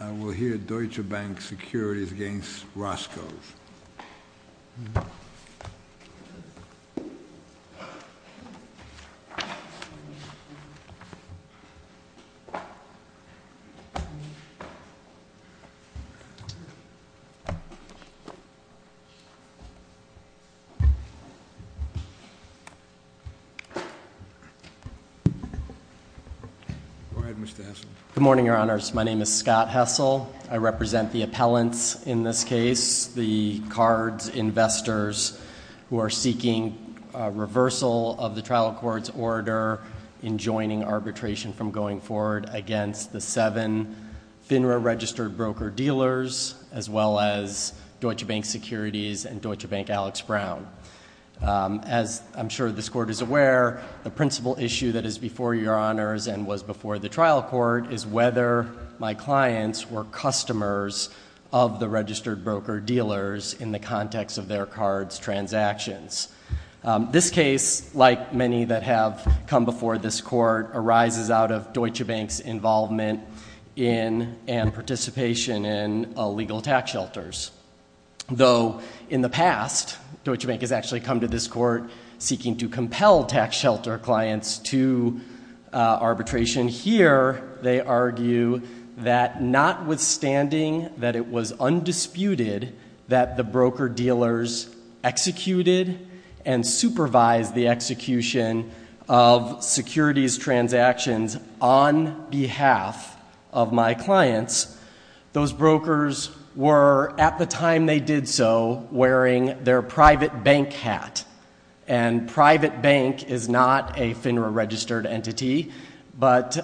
I will hear Deutsche Bank Securities against Roscoe's. Good morning, Your Honors. My name is Scott Hessel. I represent the appellants in this case, the cards investors who are seeking a reversal of the trial court's order in joining arbitration from going forward against the seven FINRA registered broker-dealers, as well as Deutsche Bank Securities and Deutsche Bank Alex Brown. As I'm sure this court is aware, the principal issue that is before Your Honors and was before the trial court is whether my clients were customers of the registered broker-dealers in the context of their cards transactions. This case, like many that have come before this court, arises out of Deutsche Bank's involvement in and participation in illegal tax shelters. Though in the past, Deutsche Bank has actually come to this court seeking to compel tax shelter clients to arbitration, here they argue that notwithstanding that it was undisputed that the broker-dealers executed and supervised the execution of securities transactions on behalf of my clients, those brokers were, at the time they did so, wearing their private bank hat. And private bank is not a FINRA-registered entity, but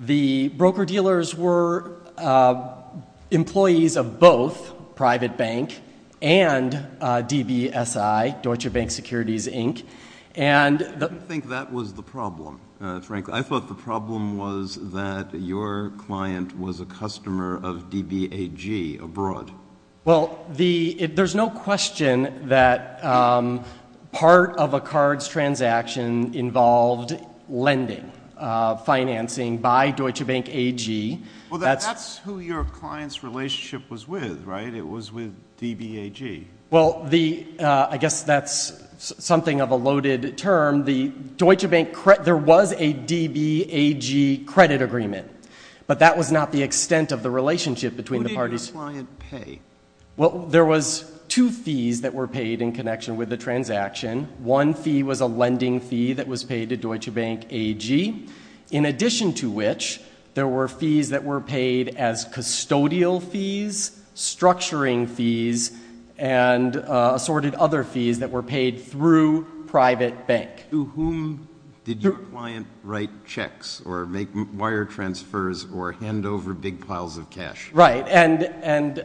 the broker-dealers were employees of both private bank and DBSI, Deutsche Bank Securities, Inc. And the— I don't think that was the problem, Frank. I thought the problem was that your client was a customer of DBAG abroad. Well, there's no question that part of a card's transaction involved lending, financing by Deutsche Bank AG. Well, that's who your client's relationship was with, right? It was with DBAG. Well, I guess that's something of a loaded term. There was a DBAG credit agreement, but that was not the extent of the relationship between the parties— Well, there was two fees that were paid in connection with the transaction. One fee was a lending fee that was paid to Deutsche Bank AG, in addition to which there were fees that were paid as custodial fees, structuring fees, and assorted other fees that were paid through private bank. To whom did your client write checks or make wire transfers or hand over big piles of cash? Right. And,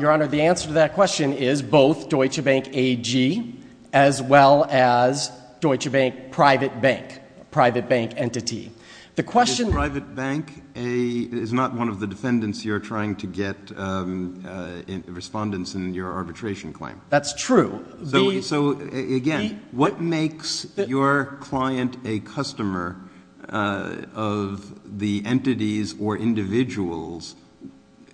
Your Honor, the answer to that question is both Deutsche Bank AG as well as Deutsche Bank Private Bank, a private bank entity. The question— Is private bank a—is not one of the defendants you're trying to get respondents in your arbitration claim? That's true. So, again, what makes your client a customer of the entities or individuals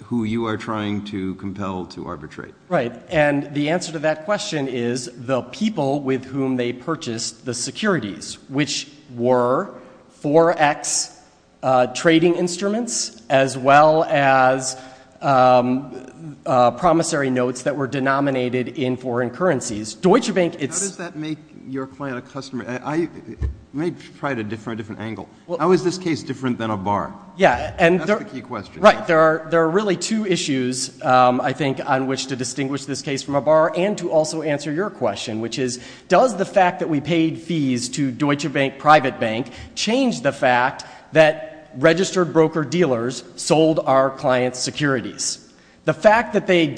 who you are trying to compel to arbitrate? Right. And the answer to that question is the people with whom they purchased the securities, which were forex trading instruments as well as promissory notes that were denominated in foreign currencies. Deutsche Bank, it's— How does that make your client a customer—let me try it a different angle. How is this case different than a bar? Yeah. That's the key question. Right. There are really two issues, I think, on which to distinguish this case from a bar and to also answer your question, which is, does the fact that we paid fees to Deutsche Bank Private Bank change the fact that registered broker-dealers sold our client's securities? The fact that they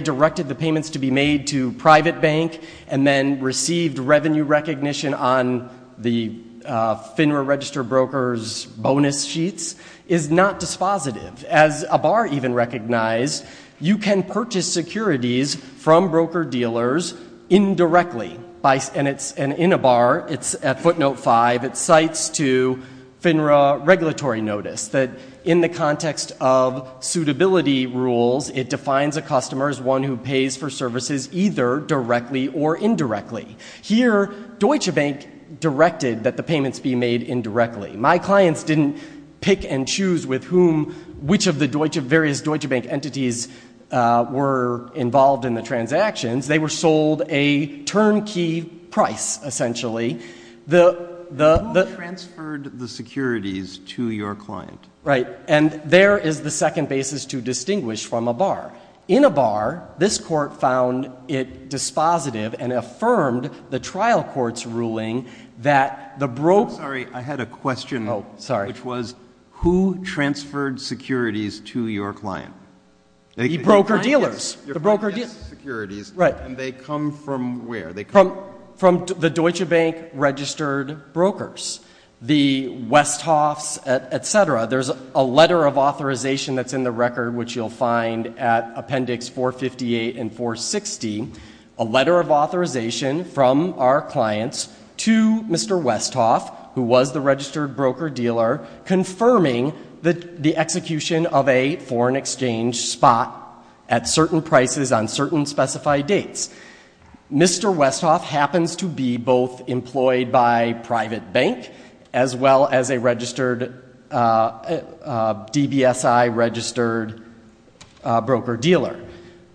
directed the payments to be made to private bank and then received revenue recognition on the FINRA registered broker's bonus sheets is not dispositive. As a bar even recognized, you can purchase securities from broker-dealers indirectly. And in a bar, it's at footnote 5, it cites to FINRA regulatory notice that in the context of suitability rules, it defines a customer as one who pays for services either directly or indirectly. Here, Deutsche Bank directed that the payments be made indirectly. My clients didn't pick and choose with whom—which of the various Deutsche Bank entities were involved in the transactions. They were sold a turnkey price, essentially. The— Who transferred the securities to your client? Right. And there is the second basis to distinguish from a bar. In a bar, this court found it dispositive and affirmed the trial court's ruling that the broker— I'm sorry. I had a question. Oh, sorry. Which was, who transferred securities to your client? Broker-dealers. The broker— Your client gets the securities. Right. And they come from where? They come— From the Deutsche Bank registered brokers. The Westhoffs, et cetera. There's a letter of authorization that's in the record, which you'll find at Appendix 458 and 460, a letter of authorization from our clients to Mr. Westhoff, who was the registered broker-dealer, confirming the execution of a foreign exchange spot at certain prices on certain specified dates. Mr. Westhoff happens to be both employed by private bank as well as a registered—a DBSI registered broker-dealer.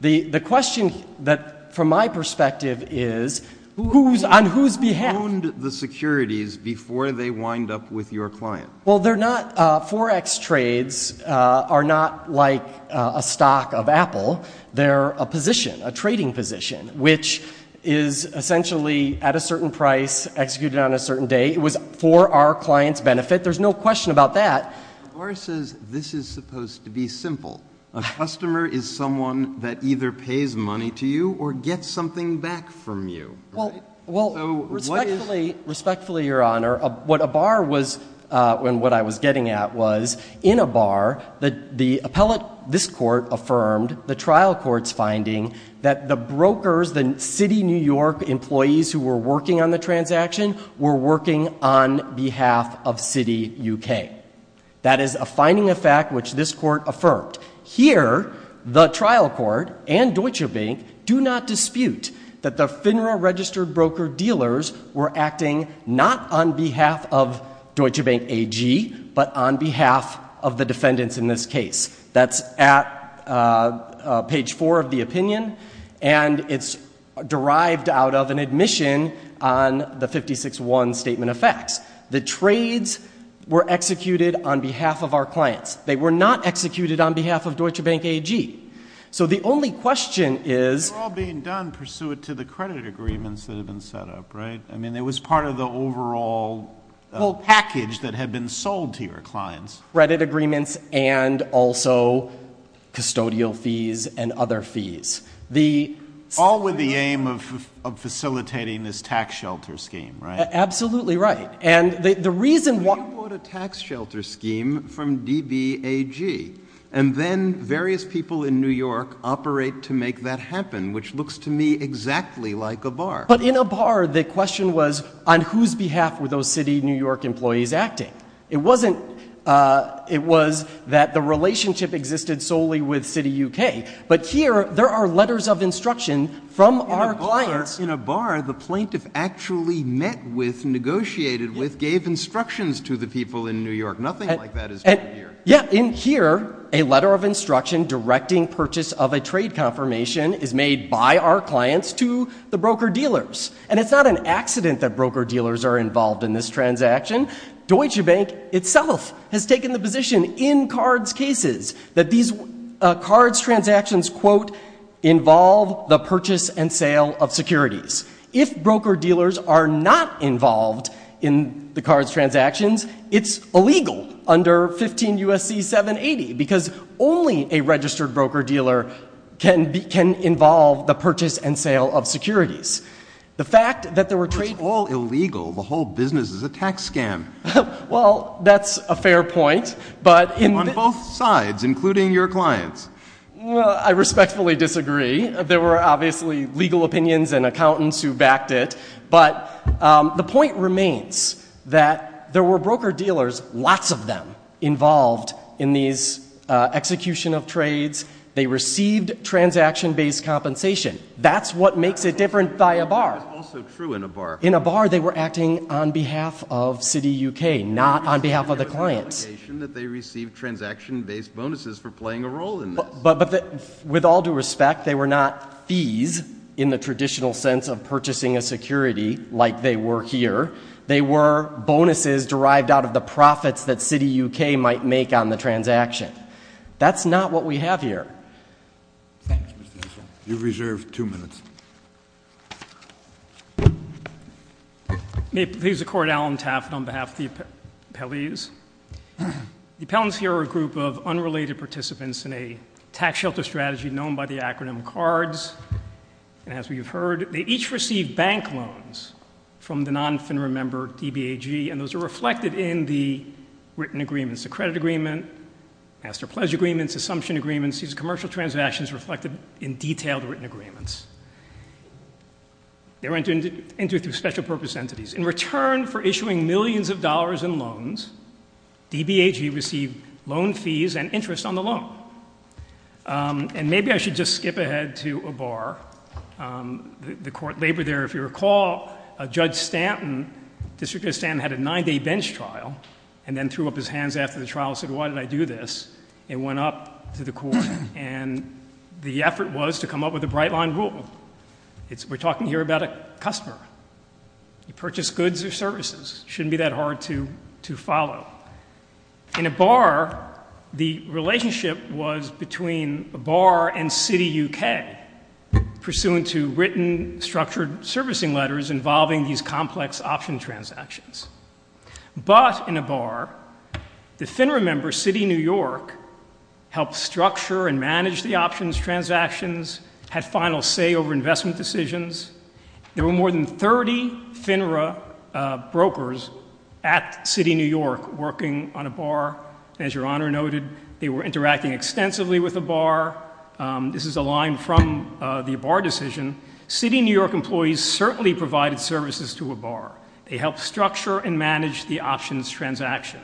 The question that, from my perspective, is who's—on whose behalf— Who owned the securities before they wind up with your client? Well, they're not—Forex trades are not like a stock of Apple. They're a position, a trading position, which is essentially at a certain price, executed on a certain date. It was for our client's benefit. There's no question about that. But Barr says this is supposed to be simple. A customer is someone that either pays money to you or gets something back from you, right? Well, respectfully, respectfully, Your Honor, what a Barr was—and what I was getting at was, in a Barr, the appellate—this court affirmed, the trial court's finding, that the brokers, the City, New York employees who were working on the transaction were working on behalf of City, UK. That is a finding of fact which this court affirmed. Here, the trial court and Deutsche Bank do not dispute that the FINRA registered broker-dealers were acting not on behalf of Deutsche Bank AG, but on behalf of the defendants in this case. That's at page 4 of the opinion, and it's derived out of an admission on the 56-1 statement of facts. The trades were executed on behalf of our clients. They were not executed on behalf of Deutsche Bank AG. So the only question is— These are the credit agreements that have been set up, right? I mean, it was part of the overall package that had been sold to your clients. Credit agreements and also custodial fees and other fees. All with the aim of facilitating this tax shelter scheme, right? Absolutely right. And the reason why— You bought a tax shelter scheme from DBAG, and then various people in New York operate to make that happen, which looks to me exactly like a bar. But in a bar, the question was, on whose behalf were those city New York employees acting? It wasn't—it was that the relationship existed solely with CityUK. But here, there are letters of instruction from our clients— In a bar, the plaintiff actually met with, negotiated with, gave instructions to the people in New York. Nothing like that is true here. Yeah, in here, a letter of instruction directing purchase of a trade confirmation is made by our clients to the broker-dealers. And it's not an accident that broker-dealers are involved in this transaction. Deutsche Bank itself has taken the position in CARDS cases that these CARDS transactions, quote, involve the purchase and sale of securities. If broker-dealers are not involved in the CARDS transactions, it's illegal under 15 U.S.C. 780, because only a registered broker-dealer can involve the purchase and sale of securities. The fact that there were trade— If it's all illegal, the whole business is a tax scam. Well, that's a fair point, but— On both sides, including your clients. Well, I respectfully disagree. There were obviously legal opinions and accountants who backed it. But the point remains that there were broker-dealers, lots of them, involved in these execution of trades. They received transaction-based compensation. That's what makes it different by a bar. That's also true in a bar. In a bar, they were acting on behalf of Citi UK, not on behalf of the clients. There was an allegation that they received transaction-based bonuses for playing a role in this. With all due respect, they were not fees in the traditional sense of purchasing a security, like they were here. They were bonuses derived out of the profits that Citi UK might make on the transaction. That's not what we have here. Thank you, Mr. Henshaw. You've reserved two minutes. May it please the Court, Allen Taft on behalf of the appellees. The appellants here are a group of unrelated participants in a tax shelter strategy known by the acronym C.A.R.D.S., and as we have heard, they each received bank loans from the non-FINRA member, DBAG, and those are reflected in the written agreements, the credit agreement, master-pledge agreements, assumption agreements, these commercial transactions reflected in detailed written agreements. They were entered through special-purpose entities. In return for issuing millions of dollars in loans, DBAG received loan fees and interest on the loan. And maybe I should just skip ahead to a bar. The Court labored there. If you recall, Judge Stanton, District Judge Stanton, had a nine-day bench trial and then threw up his hands after the trial and said, why did I do this? It went up to the Court, and the effort was to come up with a bright-line rule. We're talking here about a customer. You purchase goods or services. Shouldn't be that hard to follow. In a bar, the relationship was between a bar and Citi UK, pursuant to written, structured servicing letters involving these complex option transactions. But in a bar, the FINRA member, Citi New York, helped structure and manage the options transactions, had final say over investment decisions. There were more than 30 FINRA brokers at Citi New York working on a bar. As Your Honor noted, they were interacting extensively with the bar. This is a line from the bar decision. Citi New York employees certainly provided services to a bar. They helped structure and manage the options transaction.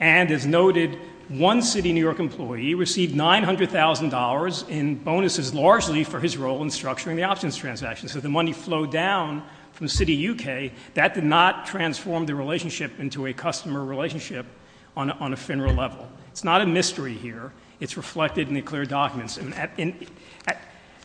And as noted, one Citi New York employee received $900,000 in bonuses largely for his role in structuring the options transaction, so the money flowed down from Citi UK. That did not transform the relationship into a customer relationship on a FINRA level. It's not a mystery here. It's reflected in the clear documents. And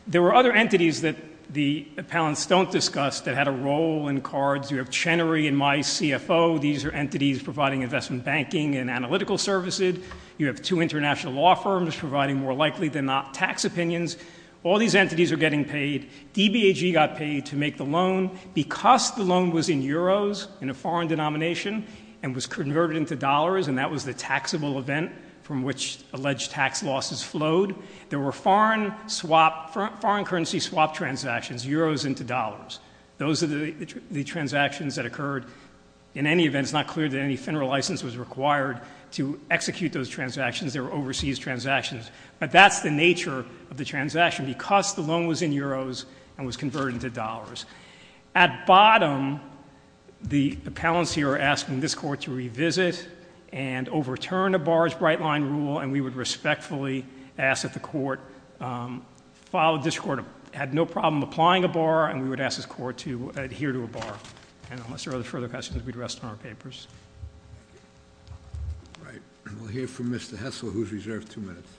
there were other entities that the appellants don't discuss that had a role in cards. You have Chenery and MyCFO. These are entities providing investment banking and analytical services. You have two international law firms providing more likely than not tax opinions. All these entities are getting paid. DBAG got paid to make the loan because the loan was in euros in a foreign denomination and was converted into dollars and that was the taxable event from which alleged tax losses flowed. There were foreign currency swap transactions, euros into dollars. Those are the transactions that occurred. In any event, it's not clear that any FINRA license was required to execute those transactions. They were overseas transactions. But that's the nature of the transaction because the loan was in euros and was converted into dollars. At bottom, the appellants here are asking this court to revisit and overturn a bar's bright line rule and we would respectfully ask that the court follow this court, had no problem applying a bar and we would ask this court to adhere to a bar. And unless there are further questions, we'd rest on our papers. All right, we'll hear from Mr. Hessel, who's reserved two minutes.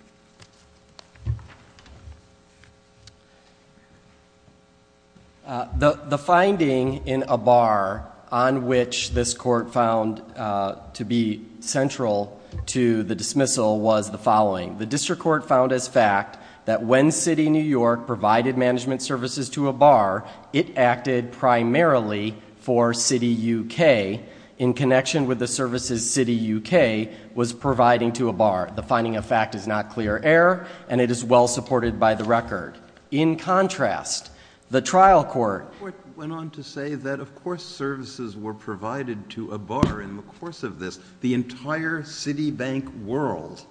The finding in a bar on which this court found to be central to the dismissal was the following. The district court found as fact that when City New York provided management services to a bar, it acted primarily for City UK in connection with the services City UK was providing to a bar. The finding of fact is not clear error, and it is well supported by the record. In contrast, the trial court went on to say that, of course, services were provided to a bar. In the course of this, the entire Citibank world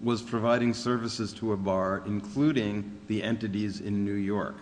was providing services to a bar, including the entities in New York.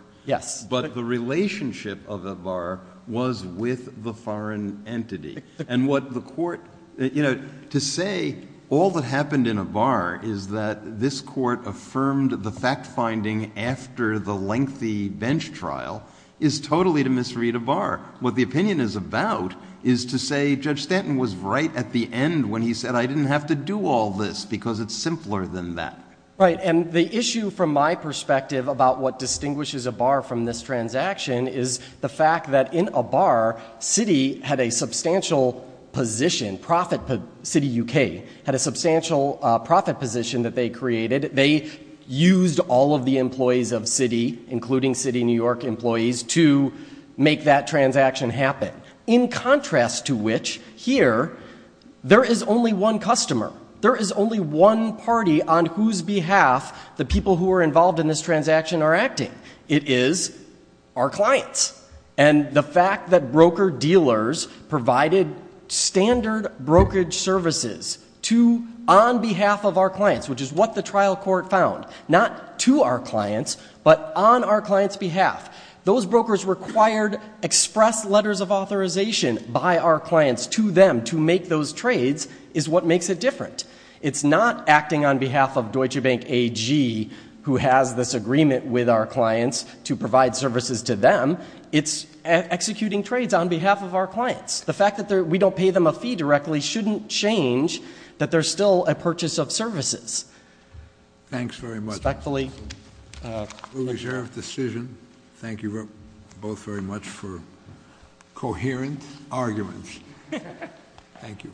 But the relationship of the bar was with the foreign entity. And what the court, to say all that happened in a bar is that this court affirmed the fact finding after the lengthy bench trial is totally to misread a bar. What the opinion is about is to say Judge Stanton was right at the end when he said I didn't have to do all this because it's simpler than that. Right, and the issue from my perspective about what distinguishes a bar from this transaction is the fact that in a bar, City had a substantial position, City UK, had a substantial profit position that they created. They used all of the employees of City, including City New York employees, to make that transaction happen. In contrast to which, here, there is only one customer. There is only one party on whose behalf the people who are involved in this transaction are acting. It is our clients. And the fact that broker dealers provided standard brokerage services to, on behalf of our clients, which is what the trial court found, not to our clients, but on our clients' behalf. Those brokers required express letters of authorization by our clients to them to make those trades is what makes it different. It's not acting on behalf of Deutsche Bank AG who has this agreement with our clients to provide services to them. It's executing trades on behalf of our clients. The fact that we don't pay them a fee directly shouldn't change that there's still a purchase of services. Thanks very much. Respectfully. Reserved decision. Thank you both very much for coherent arguments. Thank you.